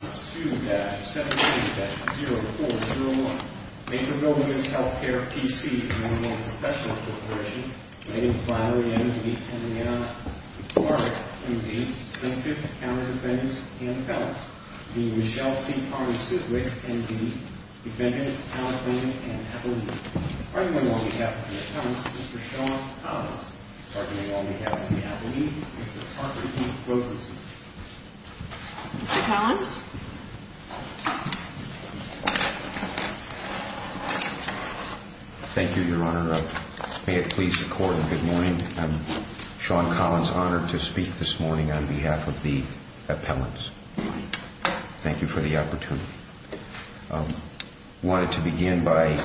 2-17-0401. Merville Womens Healthcare P.C. Professional Corporation. Named by the M.D. and the M.D. plaintiff, county defendants, and the felons. The Michelle C. Parmer Siswick, M.D. Defendant, County Plaintiff, and Appellee. Arguing on behalf of the appellants, Mr. Sean Collins. Arguing on behalf of the appellees, Mr. Harper E. Rosenstein. Mr. Collins. Thank you, Your Honor. May it please the Court, and good morning. I'm Sean Collins, honored to speak this morning on behalf of the appellants. Thank you for the opportunity. I wanted to begin by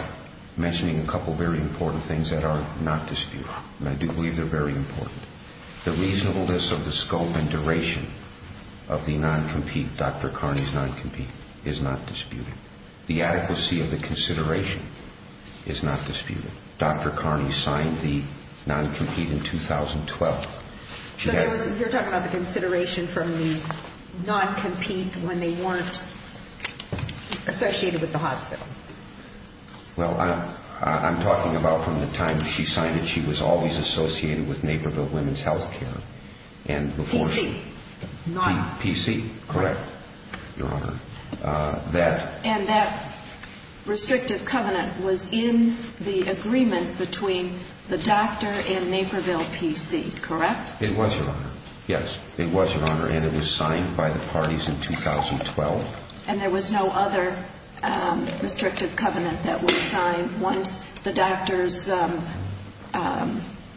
mentioning a couple of very important things that are not disputed. And I do believe they're very important. The reasonableness of the scope and duration of the non-compete, Dr. Carney's non-compete, is not disputed. The adequacy of the consideration is not disputed. Dr. Carney signed the non-compete in 2012. So you're talking about the consideration from the non-compete when they weren't associated with the hospital? Well, I'm talking about from the time she signed it, she was always associated with Naperville Women's Health Care. PC? PC, correct, Your Honor. And that restrictive covenant was in the agreement between the doctor and Naperville PC, correct? It was, Your Honor. Yes, it was, Your Honor. And it was signed by the parties in 2012. And there was no other restrictive covenant that was signed once the doctors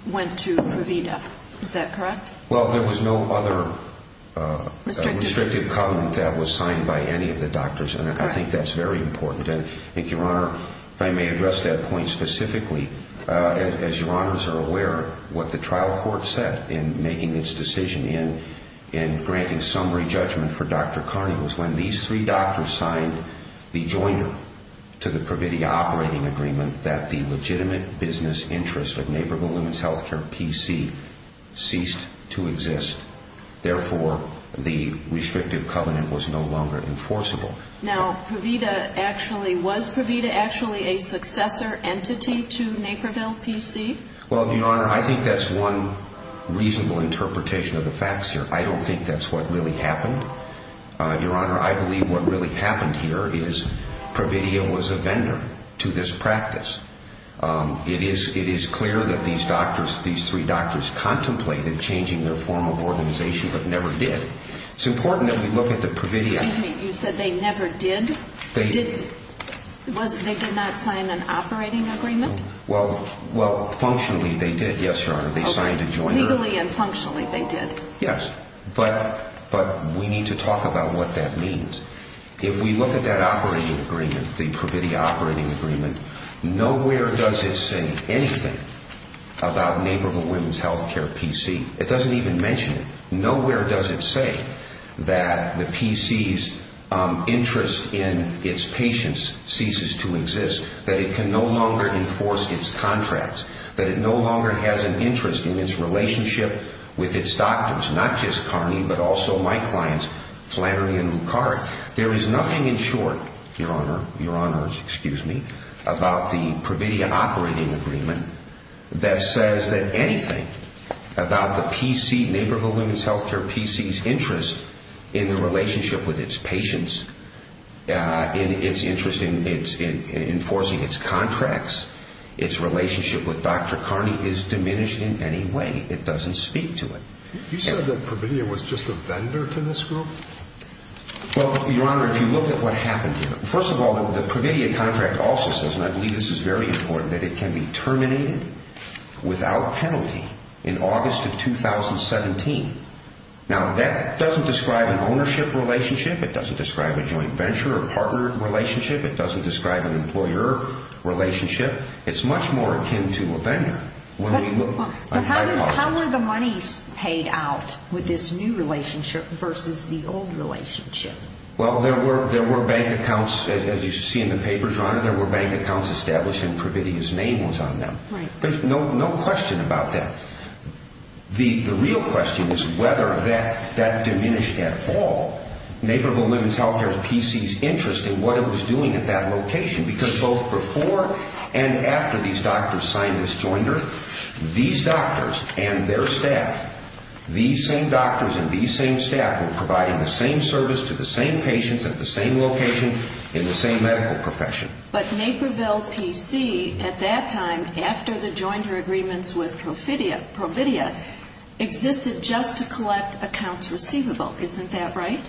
went to Provida, is that correct? Well, there was no other restrictive covenant that was signed by any of the doctors, and I think that's very important. And I think, Your Honor, if I may address that point specifically, as Your Honors are aware, what the trial court said in making its decision in granting summary judgment for Dr. Carney was when these three doctors signed the joiner to the Provida operating agreement that the legitimate business interest of Naperville Women's Health Care PC ceased to exist. Therefore, the restrictive covenant was no longer enforceable. Now, was Provida actually a successor entity to Naperville PC? Well, Your Honor, I think that's one reasonable interpretation of the facts here. I don't think that's what really happened. Your Honor, I believe what really happened here is Provida was a vendor to this practice. It is clear that these doctors, these three doctors, contemplated changing their form of organization but never did. It's important that we look at the Provida. Excuse me, you said they never did? They did. They did not sign an operating agreement? Well, functionally they did, yes, Your Honor. They signed a joiner. Legally and functionally they did. Yes, but we need to talk about what that means. If we look at that operating agreement, the Provida operating agreement, nowhere does it say anything about Naperville Women's Health Care PC. It doesn't even mention it. Nowhere does it say that the PC's interest in its patients ceases to exist, that it can no longer enforce its contracts, that it no longer has an interest in its relationship with its doctors, not just Carney but also my clients Flannery and Lucard. There is nothing in short, Your Honor, Your Honors, excuse me, about the Provida operating agreement that says that anything about the PC, Naperville Women's Health Care PC's interest in the relationship with its patients, its interest in enforcing its contracts, its relationship with Dr. Carney is diminished in any way. It doesn't speak to it. You said that Provida was just a vendor to this group? Well, Your Honor, if you look at what happened here, first of all the Provida contract also says, and I believe this is very important, that it can be terminated without penalty in August of 2017. Now that doesn't describe an ownership relationship. It doesn't describe a joint venture or partner relationship. It doesn't describe an employer relationship. It's much more akin to a vendor. How were the monies paid out with this new relationship versus the old relationship? Well, there were bank accounts, as you see in the papers, Your Honor, there were bank accounts established and Provida's name was on them. There's no question about that. The real question is whether that diminished at all Naperville Women's Health Care PC's interest in what it was doing at that location, because both before and after these doctors signed this jointer, these doctors and their staff, these same doctors and these same staff were providing the same service to the same patients at the same location in the same medical profession. But Naperville PC at that time, after the jointer agreements with Provida, existed just to collect accounts receivable. Isn't that right?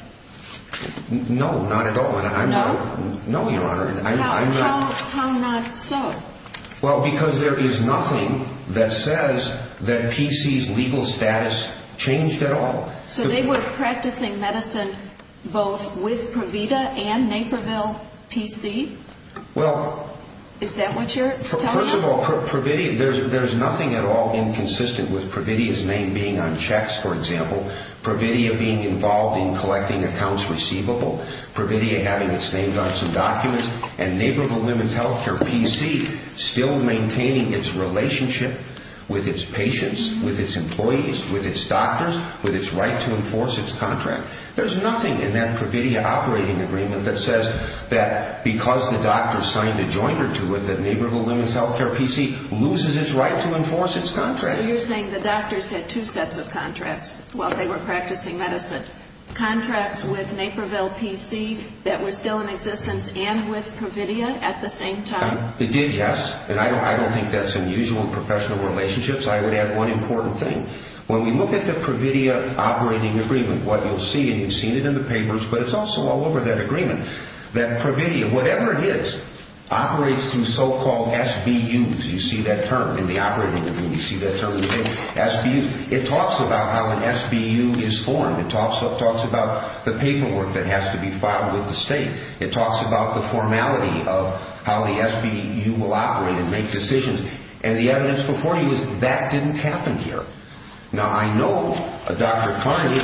No, not at all. No? No, Your Honor. How not so? Well, because there is nothing that says that PC's legal status changed at all. So they were practicing medicine both with Provida and Naperville PC? Well... Is that what you're telling us? First of all, there's nothing at all inconsistent with Provida's name being on checks, for example, Provida being involved in collecting accounts receivable, Provida having its name on some documents, and Naperville Women's Health Care PC still maintaining its relationship with its patients, with its employees, with its doctors, with its right to enforce its contract. There's nothing in that Provida operating agreement that says that because the doctor signed a jointer to it, that Naperville Women's Health Care PC loses its right to enforce its contract. So you're saying the doctors had two sets of contracts while they were practicing medicine, contracts with Naperville PC that were still in existence and with Provida at the same time? It did, yes. And I don't think that's unusual in professional relationships. I would add one important thing. When we look at the Provida operating agreement, what you'll see, and you've seen it in the papers, but it's also all over that agreement, that Provida, whatever it is, operates through so-called SBUs. You see that term in the operating agreement. You see that term in the papers, SBUs. It talks about how an SBU is formed. It talks about the paperwork that has to be filed with the state. It talks about the formality of how the SBU will operate and make decisions. And the evidence before you is that didn't happen here. Now, I know Dr. Carney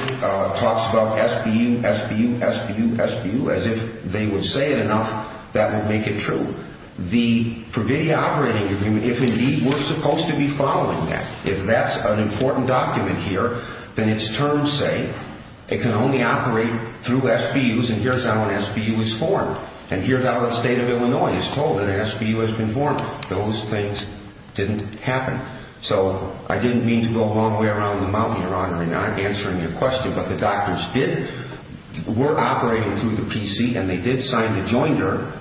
talks about SBU, SBU, SBU, SBU. As if they would say it enough, that would make it true. The Provida operating agreement, if indeed we're supposed to be following that, if that's an important document here, then its terms say it can only operate through SBUs, and here's how an SBU is formed. And here's how the state of Illinois is told that an SBU has been formed. Those things didn't happen. So I didn't mean to go a long way around the mountain, Your Honor, in not answering your question, but the doctors did, were operating through the PC, and they did sign the joinder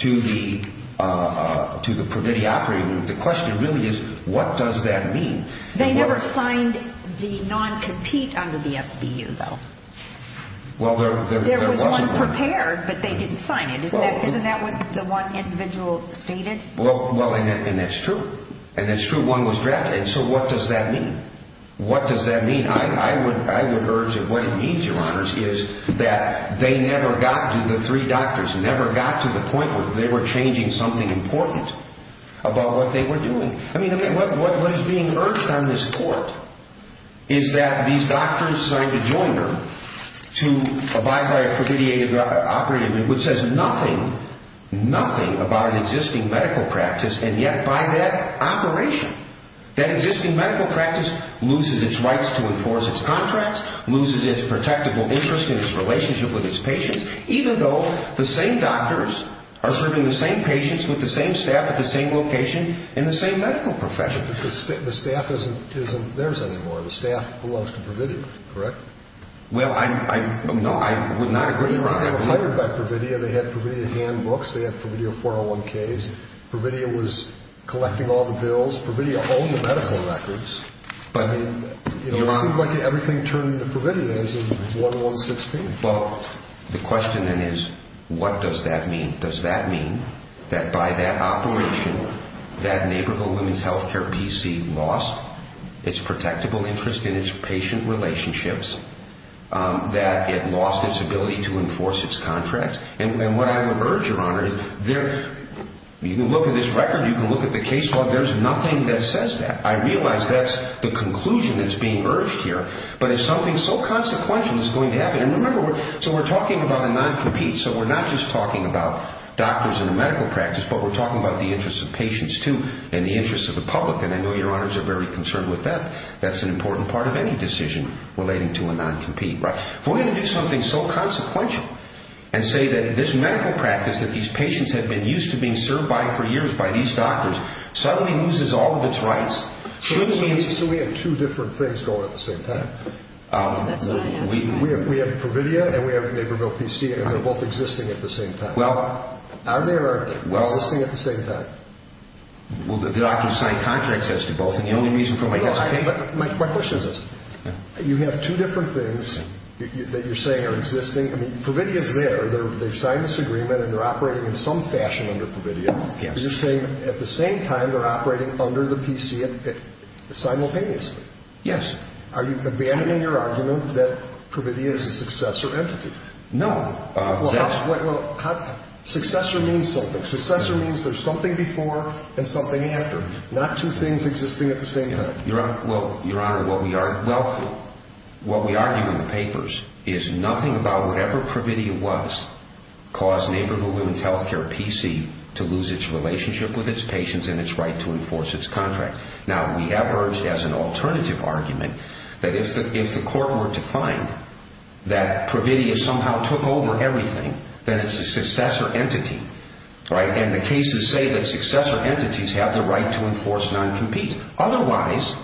to the Provida operating agreement. The question really is what does that mean? They never signed the non-compete under the SBU, though. Well, there wasn't one. There was one prepared, but they didn't sign it. Isn't that what the one individual stated? Well, and it's true. And it's true, one was drafted. So what does that mean? What does that mean? I would urge that what it means, Your Honors, is that they never got to, the three doctors never got to the point where they were changing something important about what they were doing. I mean, what is being urged on this court is that these doctors signed a joinder to abide by a Provida operating agreement which says nothing, nothing about an existing medical practice, and yet by that operation, that existing medical practice loses its rights to enforce its contracts, loses its protectable interest in its relationship with its patients, even though the same doctors are serving the same patients with the same staff at the same location in the same medical profession. But the staff isn't theirs anymore. The staff belongs to Provida, correct? Well, no, I would not agree, Your Honor. They were hired by Provida. They had Provida handbooks. They had Provida 401Ks. Provida was collecting all the bills. Provida owned the medical records. But it seems like everything turned to Provida as in 1116. Well, the question then is what does that mean? Does that mean that by that operation, that neighborhood women's health care PC lost its protectable interest in its patient relationships, that it lost its ability to enforce its contracts? And what I would urge, Your Honor, you can look at this record, you can look at the case log, there's nothing that says that. I realize that's the conclusion that's being urged here, but it's something so consequential that it's going to happen. And remember, so we're talking about a non-compete. So we're not just talking about doctors in the medical practice, but we're talking about the interests of patients too and the interests of the public, and I know Your Honors are very concerned with that. That's an important part of any decision relating to a non-compete, right? If we're going to do something so consequential and say that this medical practice that these patients have been used to being served by for years by these doctors suddenly loses all of its rights, shouldn't we? So we have two different things going at the same time. We have Provida and we have Neighborville PC, and they're both existing at the same time. Are they or are they not existing at the same time? Well, the doctor signed contracts as to both, and the only reason for my hesitation... My quick question is this. You have two different things that you're saying are existing. I mean, Provida's there. They've signed this agreement and they're operating in some fashion under Provida. Yes. But you're saying at the same time they're operating under the PC simultaneously. Yes. Are you abandoning your argument that Provida is a successor entity? No. Well, how... successor means something. Not two things existing at the same time. Well, Your Honor, what we argue in the papers is nothing about whatever Provida was caused Neighborville Women's Healthcare PC to lose its relationship with its patients and its right to enforce its contract. Now, we have urged as an alternative argument that if the court were to find that Provida somehow took over everything, then it's a successor entity. Right? And the cases say that successor entities have the right to enforce non-competes. Otherwise,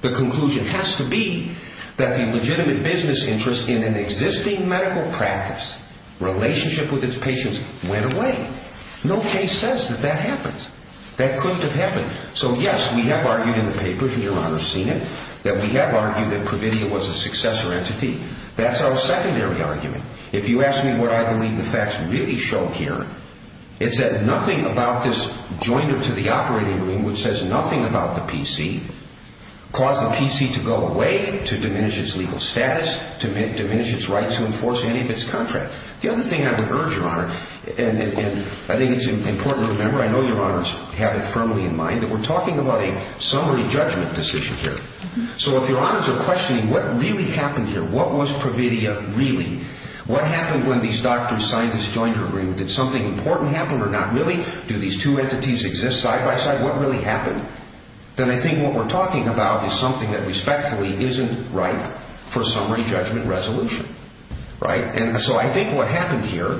the conclusion has to be that the legitimate business interest in an existing medical practice relationship with its patients went away. No case says that that happens. That couldn't have happened. So, yes, we have argued in the paper, and Your Honor has seen it, that we have argued that Provida was a successor entity. That's our secondary argument. If you ask me what I believe the facts really show here, it's that nothing about this joint to the operating room, which says nothing about the PC, caused the PC to go away to diminish its legal status, to diminish its right to enforce any of its contracts. The other thing I would urge, Your Honor, and I think it's important to remember, I know Your Honors have it firmly in mind, that we're talking about a summary judgment decision here. So if Your Honors are questioning what really happened here, what was Provida really, what happened when these doctors, scientists joined her group? Did something important happen or not really? Do these two entities exist side-by-side? What really happened? Then I think what we're talking about is something that respectfully isn't right for a summary judgment resolution, right? And so I think what happened here,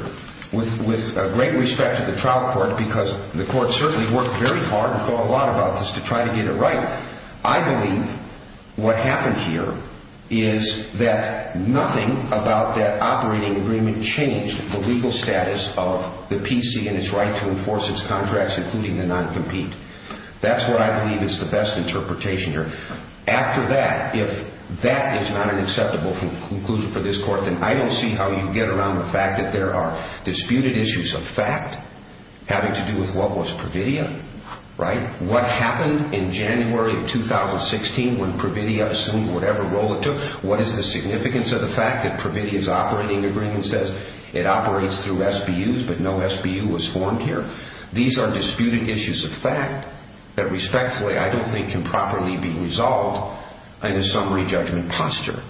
with great respect to the trial court, because the court certainly worked very hard and thought a lot about this to try to get it I believe what happened here is that nothing about that operating agreement changed the legal status of the PC and its right to enforce its contracts, including the non-compete. That's what I believe is the best interpretation here. After that, if that is not an acceptable conclusion for this court, then I don't see how you get around the fact that there are disputed issues of fact having to do with what was Provida, right? What happened in January of 2016 when Provida assumed whatever role it took? What is the significance of the fact that Provida's operating agreement says it operates through SBUs but no SBU was formed here? These are disputed issues of fact that respectfully I don't think can properly be resolved in a summary judgment posture.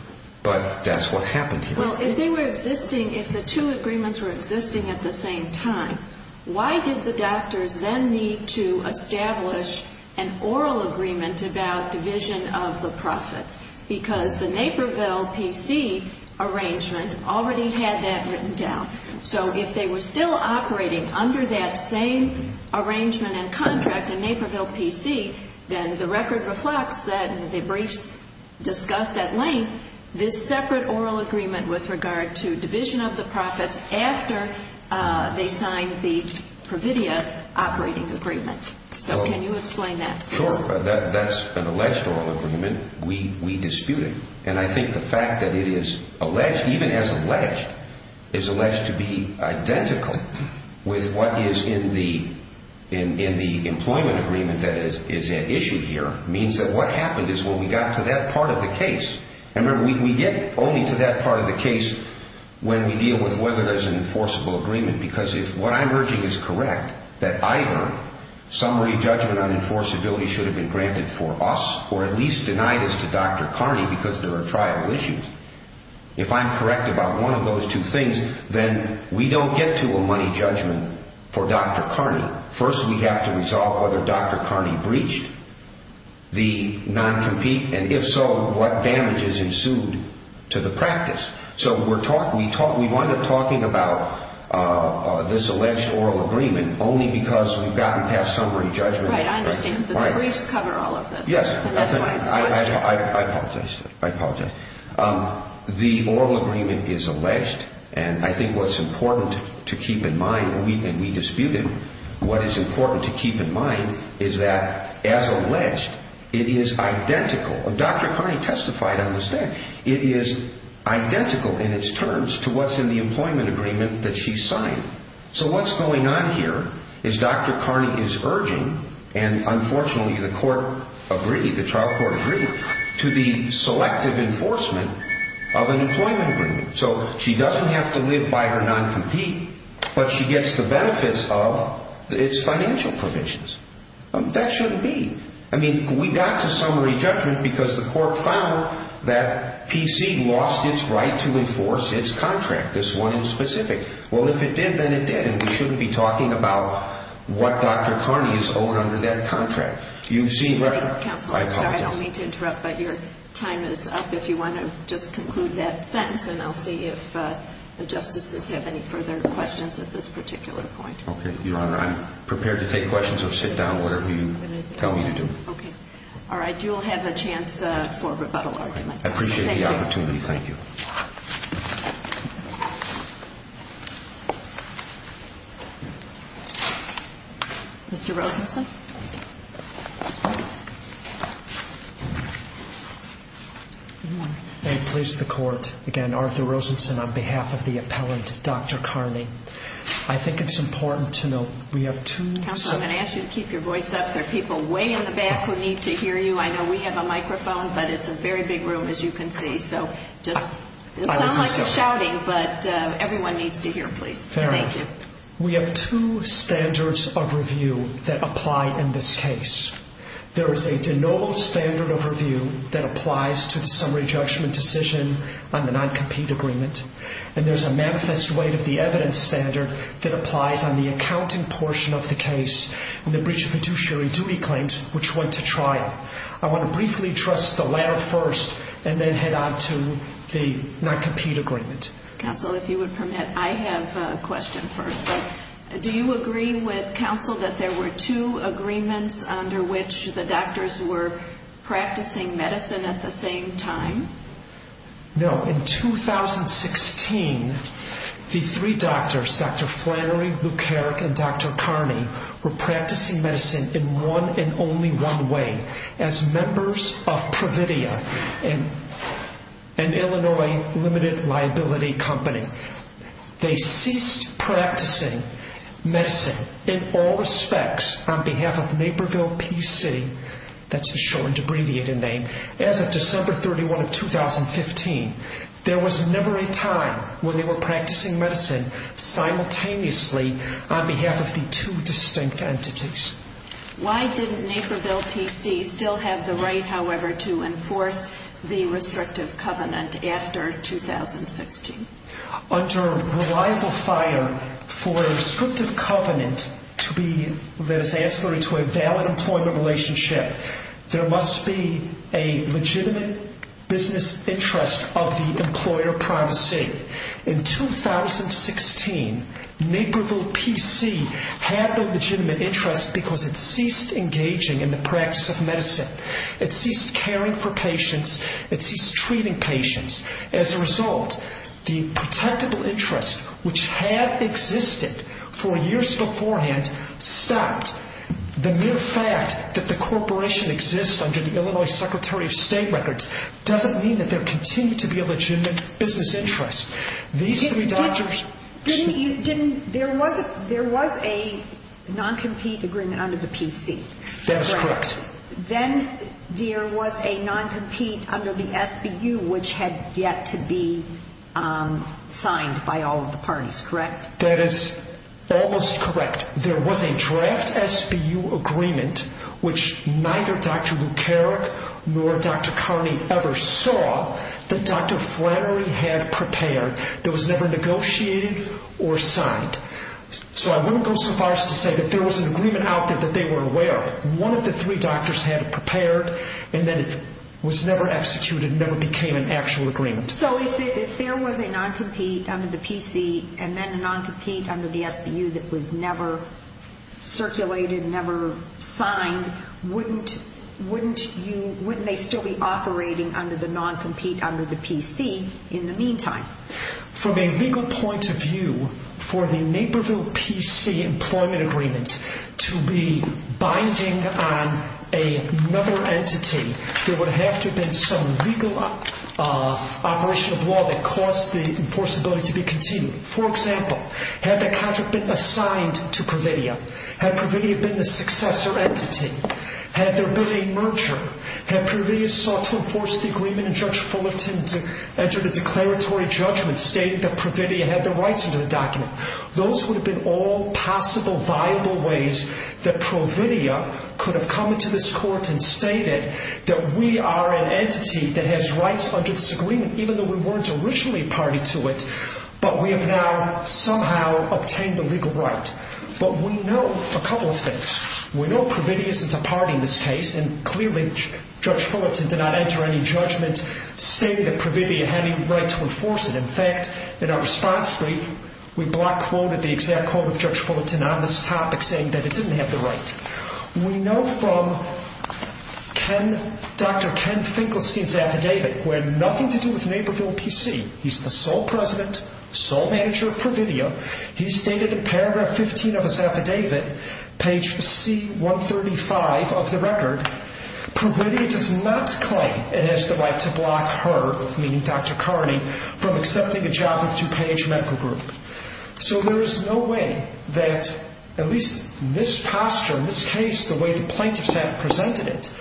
But that's what happened here. Well, if they were existing, if the two agreements were existing at the same time, why did the doctors then need to establish an oral agreement about division of the profits? Because the Naperville PC arrangement already had that written down. So if they were still operating under that same arrangement and contract in Naperville PC, then the record reflects that, and the briefs discuss at length, this separate oral agreement with regard to division of the profits after they signed the Provida operating agreement. So can you explain that, please? Sure. That's an alleged oral agreement. We dispute it. And I think the fact that it is alleged, even as alleged, is alleged to be identical with what is in the employment agreement that is issued here means that what happened is when we got to that part of the case, and remember, we get only to that part of the case when we deal with whether there's an enforceable agreement. Because if what I'm urging is correct, that either summary judgment on enforceability should have been granted for us, or at least denied us to Dr. Carney because there are trial issues, if I'm correct about one of those two things, then we don't get to a money judgment for Dr. Carney. First, we have to resolve whether Dr. Carney breached the non-compete, and if so, what damages ensued to the practice. So we wind up talking about this alleged oral agreement only because we've gotten past summary judgment. Right. I understand. But the briefs cover all of this. Yes. I apologize. I apologize. The oral agreement is alleged, and I think what's important to keep in mind, and we dispute it, what is important to keep in mind is that, as alleged, it is identical. Dr. Carney testified on the stand. It is identical in its terms to what's in the employment agreement that she signed. So what's going on here is Dr. Carney is urging, and unfortunately the court agreed, the trial court agreed, to the selective enforcement of an employment agreement. So she doesn't have to live by her non-compete, but she gets the benefits of its financial provisions. That shouldn't be. I mean, we got to summary judgment because the court found that PC lost its right to enforce its contract, this one in specific. Well, if it did, then it did, and we shouldn't be talking about what Dr. Carney is owed under that contract. Excuse me, counsel. I apologize. I don't mean to interrupt, but your time is up. If you want to just conclude that sentence, and I'll see if the justices have any further questions at this particular point. Okay, Your Honor. I'm prepared to take questions or sit down, whatever you tell me to do. Okay. All right. You'll have a chance for a rebuttal argument. I appreciate the opportunity. Thank you. Mr. Rosenson. May it please the court, again, Arthur Rosenson on behalf of the appellant, Dr. Carney. I think it's important to note we have two standards. Counsel, I'm going to ask you to keep your voice up. There are people way in the back who need to hear you. I know we have a microphone, but it's a very big room, as you can see. It sounds like you're shouting, but everyone needs to hear, please. Thank you. We have two standards of review that apply in this case. There is a de novo standard of review that applies to the summary judgment decision on the non-compete agreement, and there's a manifest weight of the evidence standard that applies on the accounting portion of the case and the breach of fiduciary duty claims, which went to trial. I want to briefly address the latter first and then head on to the non-compete agreement. Counsel, if you would permit, I have a question first. Do you agree with counsel that there were two agreements under which the doctors were practicing medicine at the same time? No. In 2016, the three doctors, Dr. Flannery, Luke Herrick, and Dr. Carney, were practicing medicine in one and only one way, as members of Pravidia, an Illinois limited liability company. They ceased practicing medicine in all respects on behalf of Naperville Peace City. That's a shortened, abbreviated name. As of December 31 of 2015, there was never a time when they were practicing medicine simultaneously on behalf of the two distinct entities. Why didn't Naperville Peace City still have the right, however, to enforce the restrictive covenant after 2016? Under reliable fire for a restrictive covenant to be, let us say, transferred to a valid employment relationship, there must be a legitimate business interest of the employer privacy. In 2016, Naperville Peace City had no legitimate interest because it ceased engaging in the practice of medicine. It ceased caring for patients. It ceased treating patients. As a result, the protectable interest, which had existed for years beforehand, stopped. The mere fact that the corporation exists under the Illinois Secretary of State records doesn't mean that there continues to be a legitimate business interest. These three doctors ---- There was a non-compete agreement under the PC. That is correct. Then there was a non-compete under the SBU, which had yet to be signed by all of the parties, correct? That is almost correct. There was a draft SBU agreement, which neither Dr. Luke Carrick nor Dr. Carney ever saw, that Dr. Flannery had prepared, that was never negotiated or signed. So I wouldn't go so far as to say that there was an agreement out there that they weren't aware of. One of the three doctors had it prepared and then it was never executed and never became an actual agreement. So if there was a non-compete under the PC and then a non-compete under the PC that was never circulated, never signed, wouldn't they still be operating under the non-compete under the PC in the meantime? From a legal point of view, for the Naperville PC employment agreement to be binding on another entity, there would have to have been some legal operation of law that caused the enforceability to be continued. For example, had the contract been assigned to Providia? Had Providia been the successor entity? Had there been a merger? Had Providia sought to enforce the agreement and Judge Fullerton entered a declaratory judgment stating that Providia had the rights under the document? Those would have been all possible viable ways that Providia could have come into this court and stated that we are an entity that has rights under this agreement, even though we weren't originally a party to it, but we have now somehow obtained the legal right. But we know a couple of things. We know Providia isn't a party in this case, and clearly Judge Fullerton did not enter any judgment stating that Providia had any right to enforce it. In fact, in our response brief, we block quoted the exact quote of Judge Fullerton on this topic saying that it didn't have the right. We know from Dr. Ken Finkelstein's affidavit, who had nothing to do with Naperville PC, he's the sole president, sole manager of Providia. He stated in paragraph 15 of his affidavit, page C-135 of the record, Providia does not claim it has the right to block her, meaning Dr. Carney, from accepting a job with DuPage Medical Group. So there is no way that at least in this posture, in this case, the way the plaintiffs have presented it,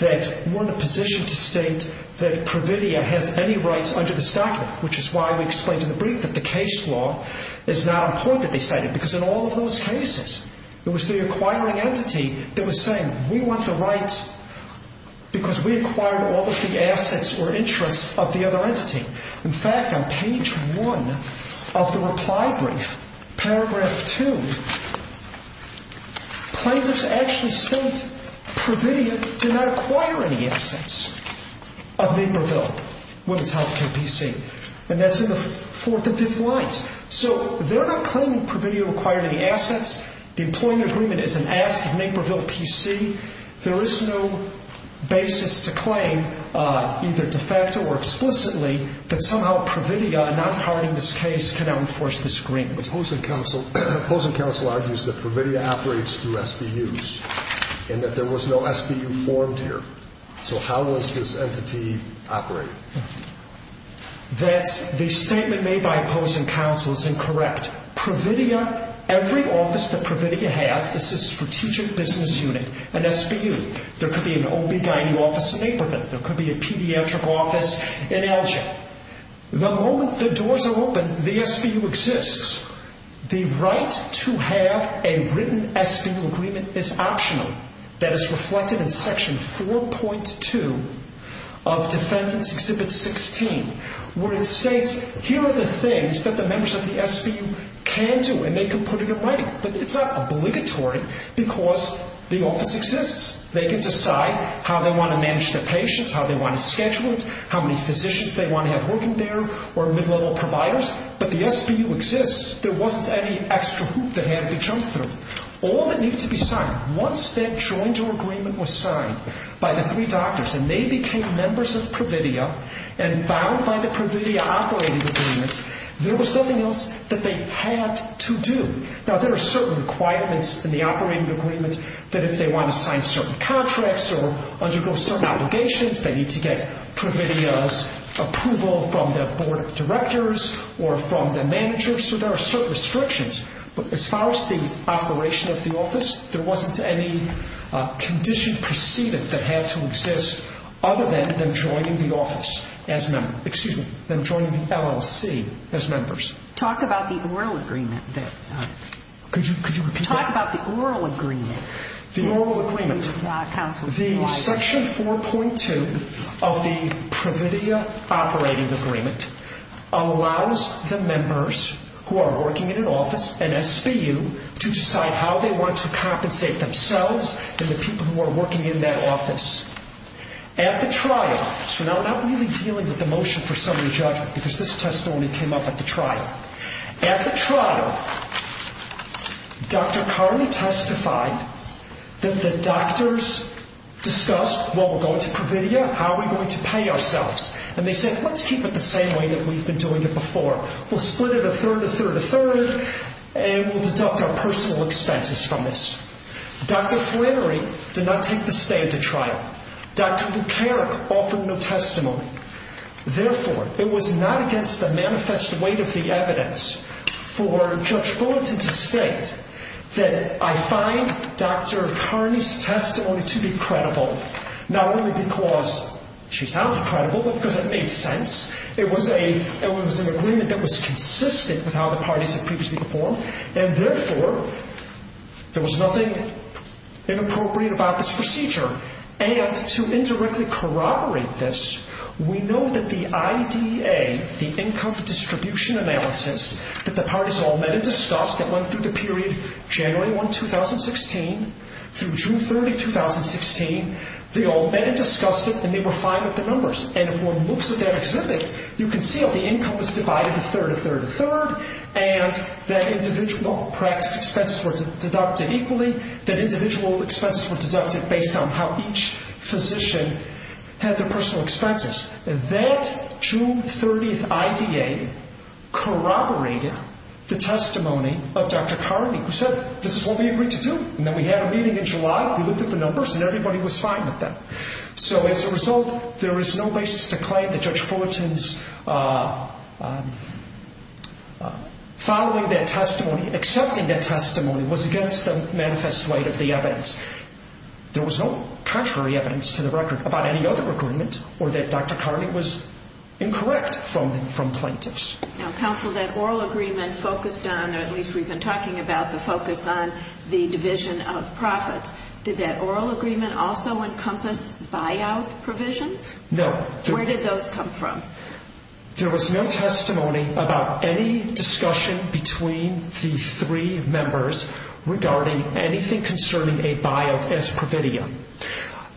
that we're in a position to state that Providia has any rights under this document, which is why we explained in the brief that the case law is not important, because in all of those cases, it was the acquiring entity that was saying, we want the rights because we acquired all of the assets or interests of the other entity. In fact, on page one of the reply brief, paragraph two, plaintiffs actually state Providia did not acquire any assets of Naperville Women's Health Care PC. And that's in the fourth and fifth lines. So they're not claiming Providia acquired any assets. The employment agreement is an ask of Naperville PC. There is no basis to claim, either de facto or explicitly, that somehow Providia, not acquiring this case, cannot enforce this agreement. The opposing counsel argues that Providia operates through SBUs and that there was no SBU formed here. So how was this entity operated? That's the statement made by opposing counsel is incorrect. Providia, every office that Providia has is a strategic business unit, an SBU. There could be an OB-GYN office in Naperville. There could be a pediatric office in Elgin. The moment the doors are open, the SBU exists. The right to have a written SBU agreement is optional. That is reflected in Section 4.2 of Defendant's Exhibit 16, where it states here are the things that the members of the SBU can do, and they can put it in writing. But it's not obligatory because the office exists. They can decide how they want to manage their patients, how they want to schedule it, how many physicians they want to have working there or mid-level providers. But the SBU exists. There wasn't any extra hoop that had to be jumped through. All that needed to be signed, once that joint agreement was signed by the three doctors and they became members of Providia and bound by the Providia operating agreement, there was nothing else that they had to do. Now, there are certain requirements in the operating agreement that if they want to sign certain contracts or undergo certain obligations, they need to get Providia's approval from their board of directors or from their managers. So there are certain restrictions. But as far as the operation of the office, there wasn't any condition preceded that had to exist other than them joining the office as members. Excuse me, them joining the LLC as members. Talk about the oral agreement. Could you repeat that? Talk about the oral agreement. The oral agreement. The Section 4.2 of the Providia operating agreement allows the members who are working in an office, an SBU, to decide how they want to compensate themselves and the people who are working in that office. At the trial, so now we're not really dealing with the motion for summary judgment because this testimony came up at the trial. At the trial, Dr. Carney testified that the doctors discussed, well, we're going to Providia, how are we going to pay ourselves? And they said, let's keep it the same way that we've been doing it before. We'll split it a third, a third, a third, and we'll deduct our personal expenses from this. Dr. Flannery did not take the stand at trial. Dr. Lucaric offered no testimony. Therefore, it was not against the manifest weight of the evidence for Judge Fullerton to state that I find Dr. Carney's testimony to be credible, not only because she sounds credible, but because it made sense. It was an agreement that was consistent with how the parties had previously performed, and therefore, there was nothing inappropriate about this procedure. And to indirectly corroborate this, we know that the IDA, the Income Distribution Analysis, that the parties all met and discussed, that went through the period January 1, 2016, through June 30, 2016, they all met and discussed it, and they were fine with the numbers. And if one looks at that exhibit, you can see how the income was divided a third, a third, a third, and that individual expenses were deducted equally, that individual expenses were deducted based on how each physician had their personal expenses. That June 30 IDA corroborated the testimony of Dr. Carney, who said, this is what we agreed to do, and then we had a meeting in July, we looked at the numbers, and everybody was fine with that. So as a result, there is no basis to claim that Judge Fullerton's following that testimony, accepting that testimony was against the manifest light of the evidence. There was no contrary evidence to the record about any other agreement or that Dr. Carney was incorrect from plaintiffs. Now, counsel, that oral agreement focused on, or at least we've been talking about, the focus on the division of profits. Did that oral agreement also encompass buyout provisions? No. Where did those come from? There was no testimony about any discussion between the three members regarding anything concerning a buyout as per video.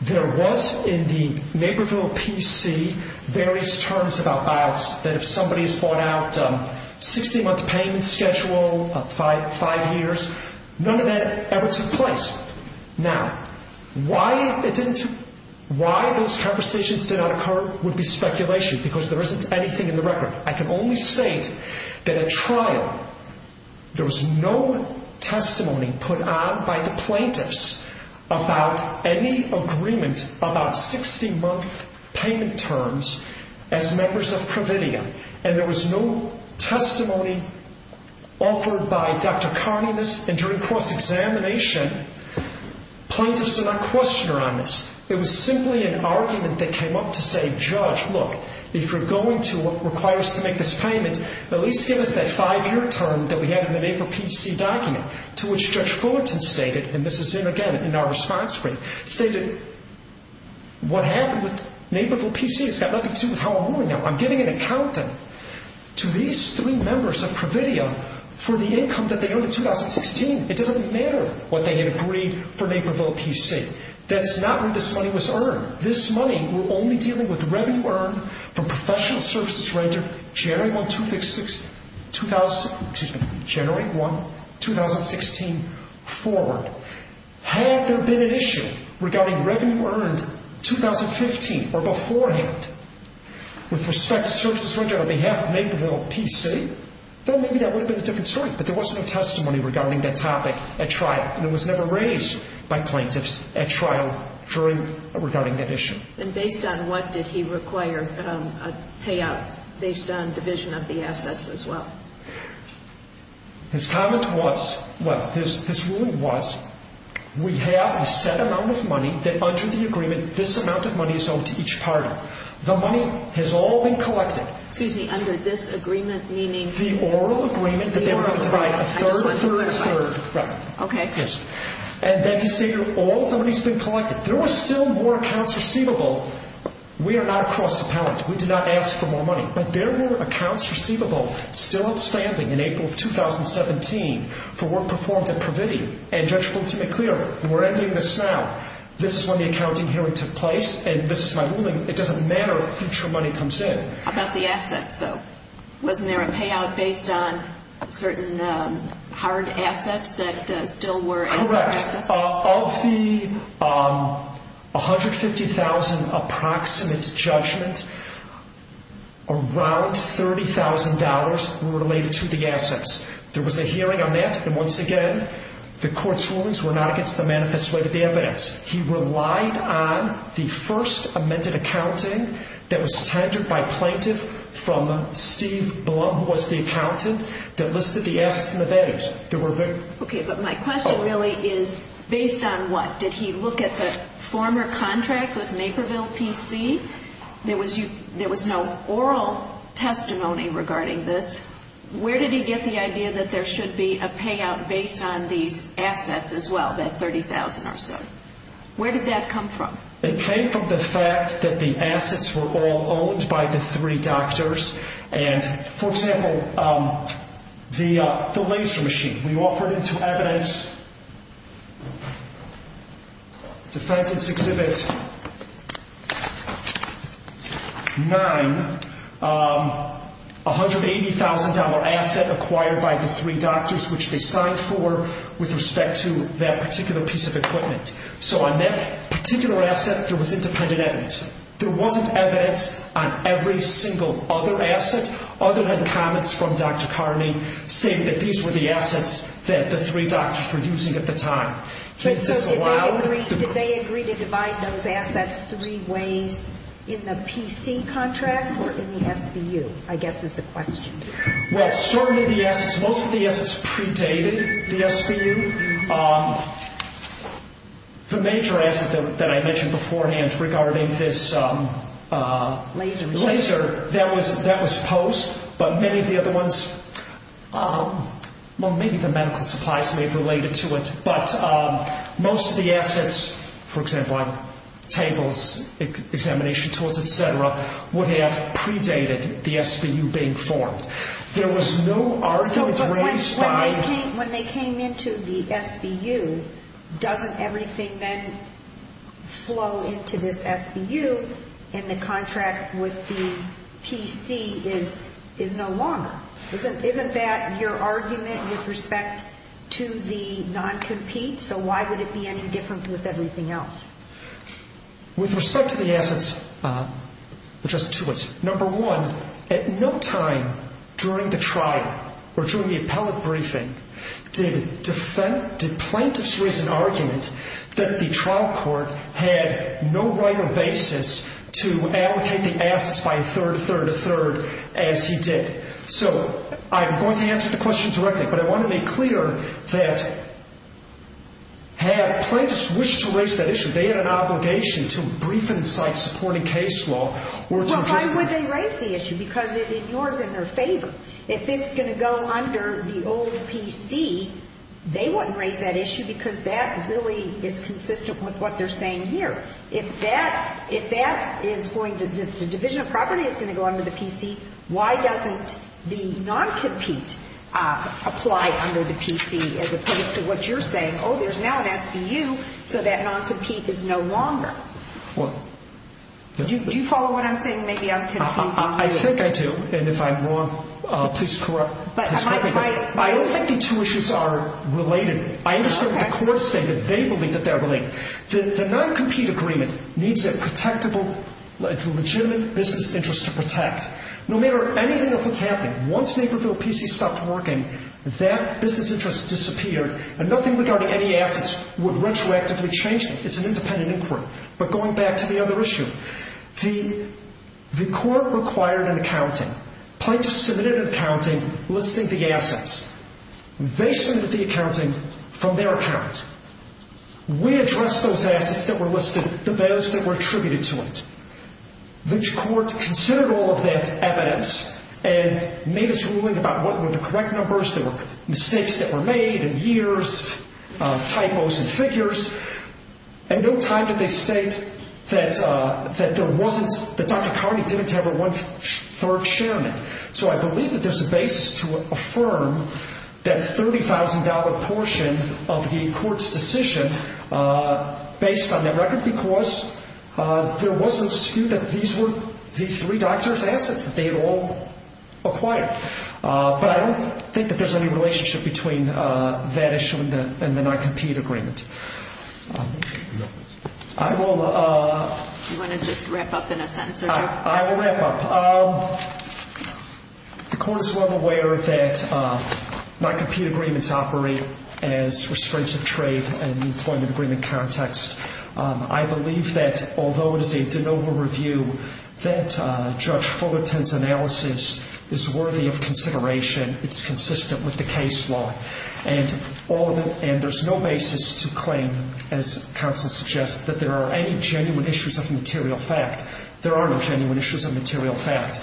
There was in the Naperville PC various terms about buyouts, that if somebody has bought out a 16-month payment schedule, five years, none of that ever took place. Now, why it didn't, why those conversations did not occur would be speculation because there isn't anything in the record. I can only state that at trial, there was no testimony put on by the plaintiffs about any agreement about 16-month payment terms as members of Providia, and there was no testimony offered by Dr. Carney in this. And during cross-examination, plaintiffs did not question her on this. It was simply an argument that came up to say, Judge, look, if you're going to require us to make this payment, at least give us that five-year term that we had in the Naperville PC document, to which Judge Fullerton stated, and this is in, again, in our response brief, stated what happened with Naperville PC has got nothing to do with how I'm ruling it. I'm giving an accountant to these three members of Providia for the income that they earned in 2016. It doesn't matter what they had agreed for Naperville PC. That's not where this money was earned. This money was only dealing with revenue earned from professional services rendered January 1, 2016 forward. Had there been an issue regarding revenue earned 2015 or beforehand with respect to services rendered on behalf of Naperville PC, then maybe that would have been a different story. But there was no testimony regarding that topic at trial, and it was never raised by plaintiffs at trial regarding that issue. And based on what did he require a payout based on division of the assets as well? His comment was, well, his ruling was we have a set amount of money that, under the agreement, this amount of money is owed to each party. The money has all been collected. Excuse me, under this agreement, meaning? The oral agreement that they were going to divide a third, a third, and a third. Okay. Yes. And then he stated all the money has been collected. There were still more accounts receivable. We are not a cross-appellant. We do not ask for more money. But there were accounts receivable still outstanding in April of 2017 for work performed at Praviti and Judge Fulton McClure. And we're ending this now. This is when the accounting hearing took place, and this is my ruling. It doesn't matter if future money comes in. How about the assets, though? Wasn't there a payout based on certain hard assets that still were in practice? Correct. Of the $150,000 approximate judgment, around $30,000 were related to the assets. There was a hearing on that. And once again, the court's rulings were not against the manifesto of the evidence. He relied on the first amended accounting that was tendered by a plaintiff from Steve Blum, who was the accountant, that listed the assets and the values. Okay, but my question really is based on what? Did he look at the former contract with Naperville PC? There was no oral testimony regarding this. Where did he get the idea that there should be a payout based on these assets as well, that $30,000 or so? Where did that come from? It came from the fact that the assets were all owned by the three doctors. For example, the laser machine. We offered it to evidence. Defendant's Exhibit 9, $180,000 asset acquired by the three doctors, which they signed for with respect to that particular piece of equipment. So on that particular asset, there was independent evidence. There wasn't evidence on every single other asset. Other than comments from Dr. Carney stating that these were the assets that the three doctors were using at the time. Did they agree to divide those assets three ways in the PC contract or in the SBU, I guess is the question. Well, certainly the assets, most of the assets predated the SBU. The major asset that I mentioned beforehand regarding this laser, that was posed, but many of the other ones, well, maybe the medical supplies may have related to it. But most of the assets, for example, on tables, examination tools, et cetera, would have predated the SBU being formed. There was no argument raised about it. When they came into the SBU, doesn't everything then flow into this SBU and the contract with the PC is no longer? Isn't that your argument with respect to the non-compete? So why would it be any different with everything else? With respect to the assets, Justice Tewitt, Number one, at no time during the trial or during the appellate briefing did plaintiffs raise an argument that the trial court had no right or basis to allocate the assets by a third, a third, a third as he did. So I'm going to answer the question directly, but I want to make clear that had plaintiffs wished to raise that issue, they had an obligation to brief and cite supporting case law. Well, why would they raise the issue? Because it ignores it in their favor. If it's going to go under the old PC, they wouldn't raise that issue because that really is consistent with what they're saying here. If that is going to the division of property is going to go under the PC, why doesn't the non-compete apply under the PC as opposed to what you're saying? Oh, there's now an SVU, so that non-compete is no longer. Do you follow what I'm saying? Maybe I'm confusing you. I think I do, and if I'm wrong, please correct me. I don't think the two issues are related. I understand what the court is saying, that they believe that they're related. The non-compete agreement needs a protectable, legitimate business interest to protect. No matter anything else that's happening, once Naperville PC stopped working, that business interest disappeared, and nothing regarding any assets would retroactively change them. It's an independent inquiry. But going back to the other issue, the court required an accounting. Plaintiffs submitted an accounting listing the assets. They submitted the accounting from their account. We addressed those assets that were listed, the bills that were attributed to it. The court considered all of that evidence and made its ruling about what were the correct numbers. There were mistakes that were made in years, typos and figures. At no time did they state that Dr. Carney didn't have a one-third share in it. So I believe that there's a basis to affirm that $30,000 portion of the court's decision based on that record because there was no skew that these were the three doctors' assets that they had all acquired. But I don't think that there's any relationship between that issue and the non-compete agreement. I will... You want to just wrap up in a sentence or two? I will wrap up. The court is well aware that non-compete agreements operate as restraints of trade in the employment agreement context. I believe that although it is a de novo review, that Judge Fullerton's analysis is worthy of consideration. It's consistent with the case law. And there's no basis to claim, as counsel suggests, that there are any genuine issues of material fact. There are no genuine issues of material fact.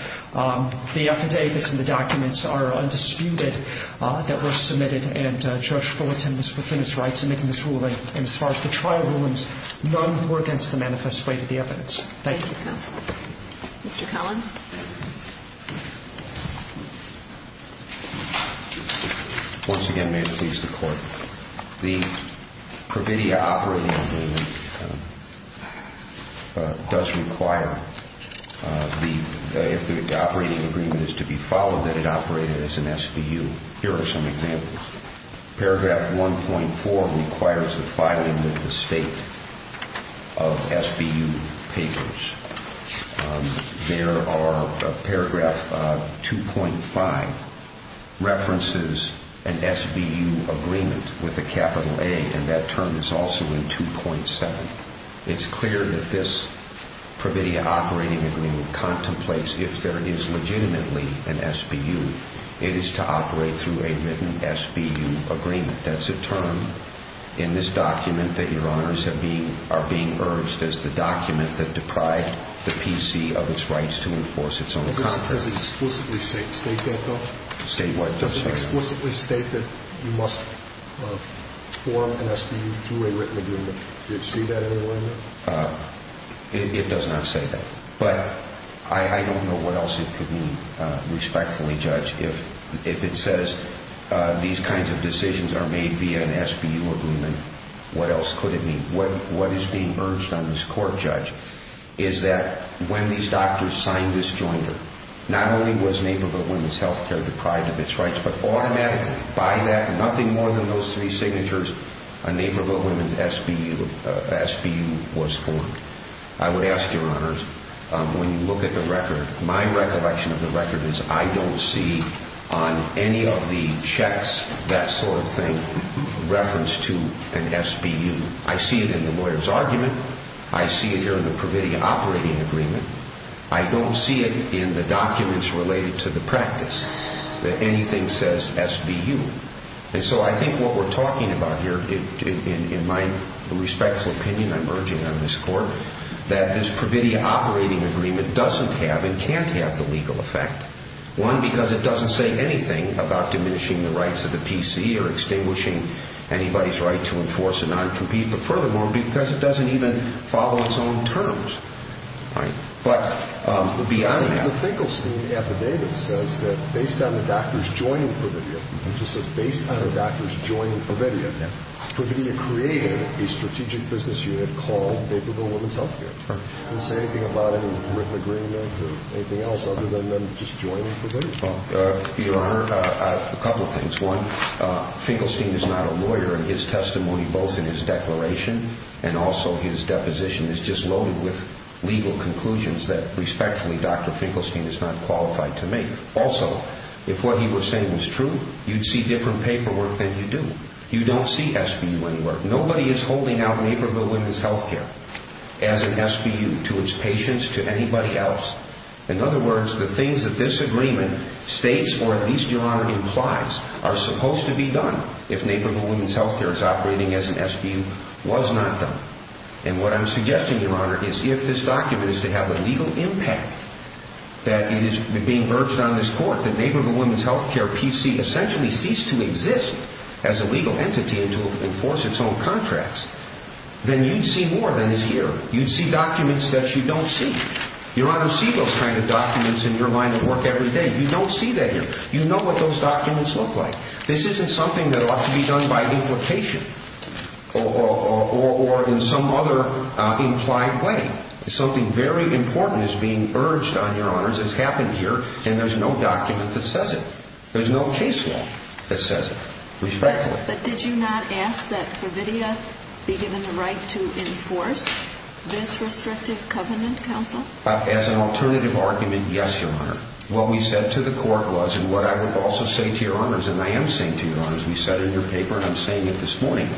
The affidavits and the documents are undisputed that were submitted, and Judge Fullerton was within his rights in making this ruling. And as far as the trial rulings, none were against the manifest way to the evidence. Thank you. Thank you, counsel. Mr. Collins. Once again, may it please the Court. The Pravidia operating agreement does require the operating agreement is to be followed that it operated as an SVU. Here are some examples. Paragraph 1.4 requires the filing of the state of SVU papers. There are paragraph 2.5 references an SVU agreement with a capital A, and that term is also in 2.7. It's clear that this Pravidia operating agreement contemplates if there is legitimately an SVU, it is to operate through a written SVU agreement. That's a term in this document that Your Honors are being urged, as the document that deprived the PC of its rights to enforce its own contract. Does it explicitly state that, though? State what? Does it explicitly state that you must form an SVU through a written agreement? Does it say that anywhere in there? It does not say that. But I don't know what else it could mean, respectfully, Judge, if it says these kinds of decisions are made via an SVU agreement, what else could it mean? What is being urged on this Court, Judge, is that when these doctors signed this jointer, not only was Naperville Women's Health Care deprived of its rights, but automatically, by that, nothing more than those three signatures, a Naperville Women's SVU was formed. I would ask Your Honors, when you look at the record, my recollection of the record is I don't see on any of the checks that sort of thing referenced to an SVU. I see it in the lawyer's argument. I see it here in the Pravidia operating agreement. I don't see it in the documents related to the practice, that anything says SVU. And so I think what we're talking about here, in my respectful opinion, I'm urging on this Court, that this Pravidia operating agreement doesn't have and can't have the legal effect. One, because it doesn't say anything about diminishing the rights of the PC or extinguishing anybody's right to enforce a non-compete, but furthermore, because it doesn't even follow its own terms. But beyond that. The Finkelstein affidavit says that based on the doctors joining Pravidia, it just says based on the doctors joining Pravidia, Pravidia created a strategic business unit called Naperville Women's Healthcare. It doesn't say anything about it in the written agreement or anything else other than them just joining Pravidia. Your Honor, a couple of things. One, Finkelstein is not a lawyer, and his testimony, both in his declaration and also his deposition, is just loaded with legal conclusions that, respectfully, Dr. Finkelstein is not qualified to make. Also, if what he was saying was true, you'd see different paperwork than you do. You don't see SVU anywhere. Nobody is holding out Naperville Women's Healthcare as an SVU to its patients, to anybody else. In other words, the things that this agreement states, or at least, Your Honor, implies, are supposed to be done if Naperville Women's Healthcare is operating as an SVU, was not done. And what I'm suggesting, Your Honor, is if this document is to have a legal impact, that it is being urged on this Court that Naperville Women's Healthcare, PC, essentially cease to exist as a legal entity and to enforce its own contracts, then you'd see more than is here. You'd see documents that you don't see. Your Honor, see those kind of documents in your line of work every day. You don't see that here. You know what those documents look like. This isn't something that ought to be done by implication or in some other implied way. Something very important is being urged on, Your Honors. It's happened here, and there's no document that says it. There's no case law that says it. Respectfully. But did you not ask that Providia be given the right to enforce this restrictive covenant, Counsel? As an alternative argument, yes, Your Honor. What we said to the Court was, and what I would also say to Your Honors, and I am saying to Your Honors, we said in your paper, and I'm saying it this morning,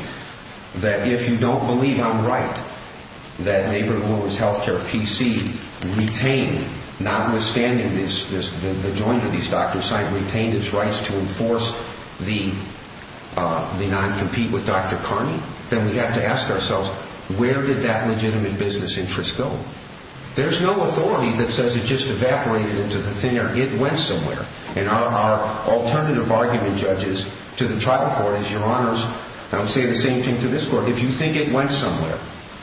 that if you don't believe I'm right that Naperville Women's Healthcare, PC, retained, notwithstanding the joint of these documents, retained its rights to enforce the non-compete with Dr. Carney, then we have to ask ourselves, where did that legitimate business interest go? There's no authority that says it just evaporated into thin air. It went somewhere. And our alternative argument, Judges, to the Tribal Court is, Your Honors, and I'm saying the same thing to this Court, if you think it went somewhere,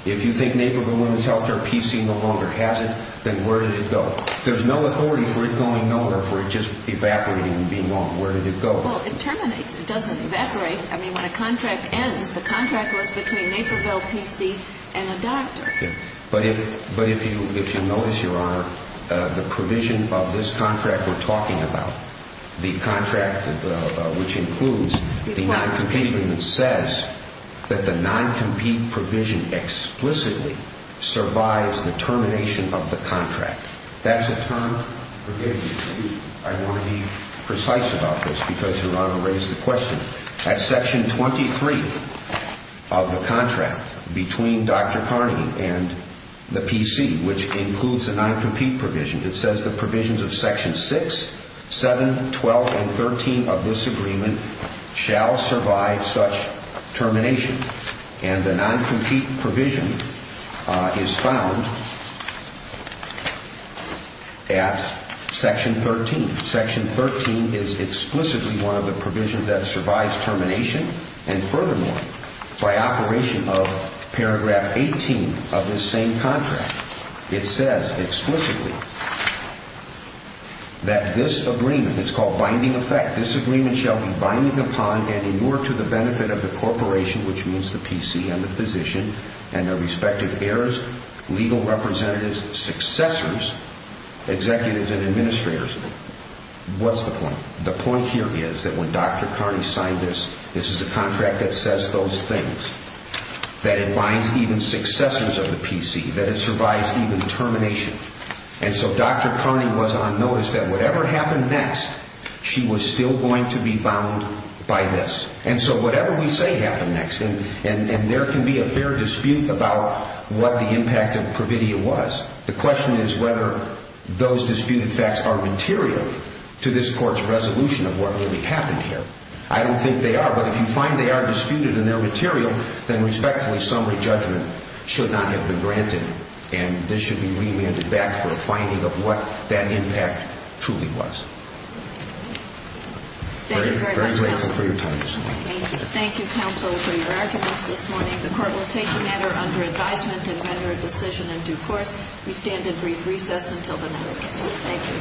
if you think Naperville Women's Healthcare, PC, no longer has it, then where did it go? There's no authority for it going nowhere, for it just evaporating and being gone. Where did it go? Well, it terminates. It doesn't evaporate. I mean, when a contract ends, the contract was between Naperville, PC, and a doctor. But if you notice, Your Honor, the provision of this contract we're talking about, the contract which includes the non-compete agreement, says that the non-compete provision explicitly survives the termination of the contract. That's a term, forgive me, I want to be precise about this because Your Honor raised the question. At Section 23 of the contract between Dr. Carney and the PC, which includes a non-compete provision, it says the provisions of Section 6, 7, 12, and 13 of this agreement shall survive such termination. And the non-compete provision is found at Section 13. Section 13 is explicitly one of the provisions that survives termination, and furthermore, by operation of paragraph 18 of this same contract, it says explicitly that this agreement, it's called binding effect, this agreement shall be binding upon and in order to the benefit of the corporation, which means the PC and the physician, and their respective heirs, legal representatives, successors, executives, and administrators. What's the point? The point here is that when Dr. Carney signed this, this is a contract that says those things, that it binds even successors of the PC, that it survives even termination. And so Dr. Carney was on notice that whatever happened next, she was still going to be bound by this. And so whatever we say happened next, and there can be a fair dispute about what the impact of providia was. The question is whether those disputed facts are material to this court's resolution of what really happened here. I don't think they are, but if you find they are disputed and they're material, then respectfully, summary judgment should not have been granted, and this should be remanded back for a finding of what that impact truly was. Thank you very much, counsel. We're very grateful for your time this morning. Thank you, counsel, for your arguments this morning. The court will take the matter under advisement and render a decision in due course. We stand in brief recess until the next case. Thank you.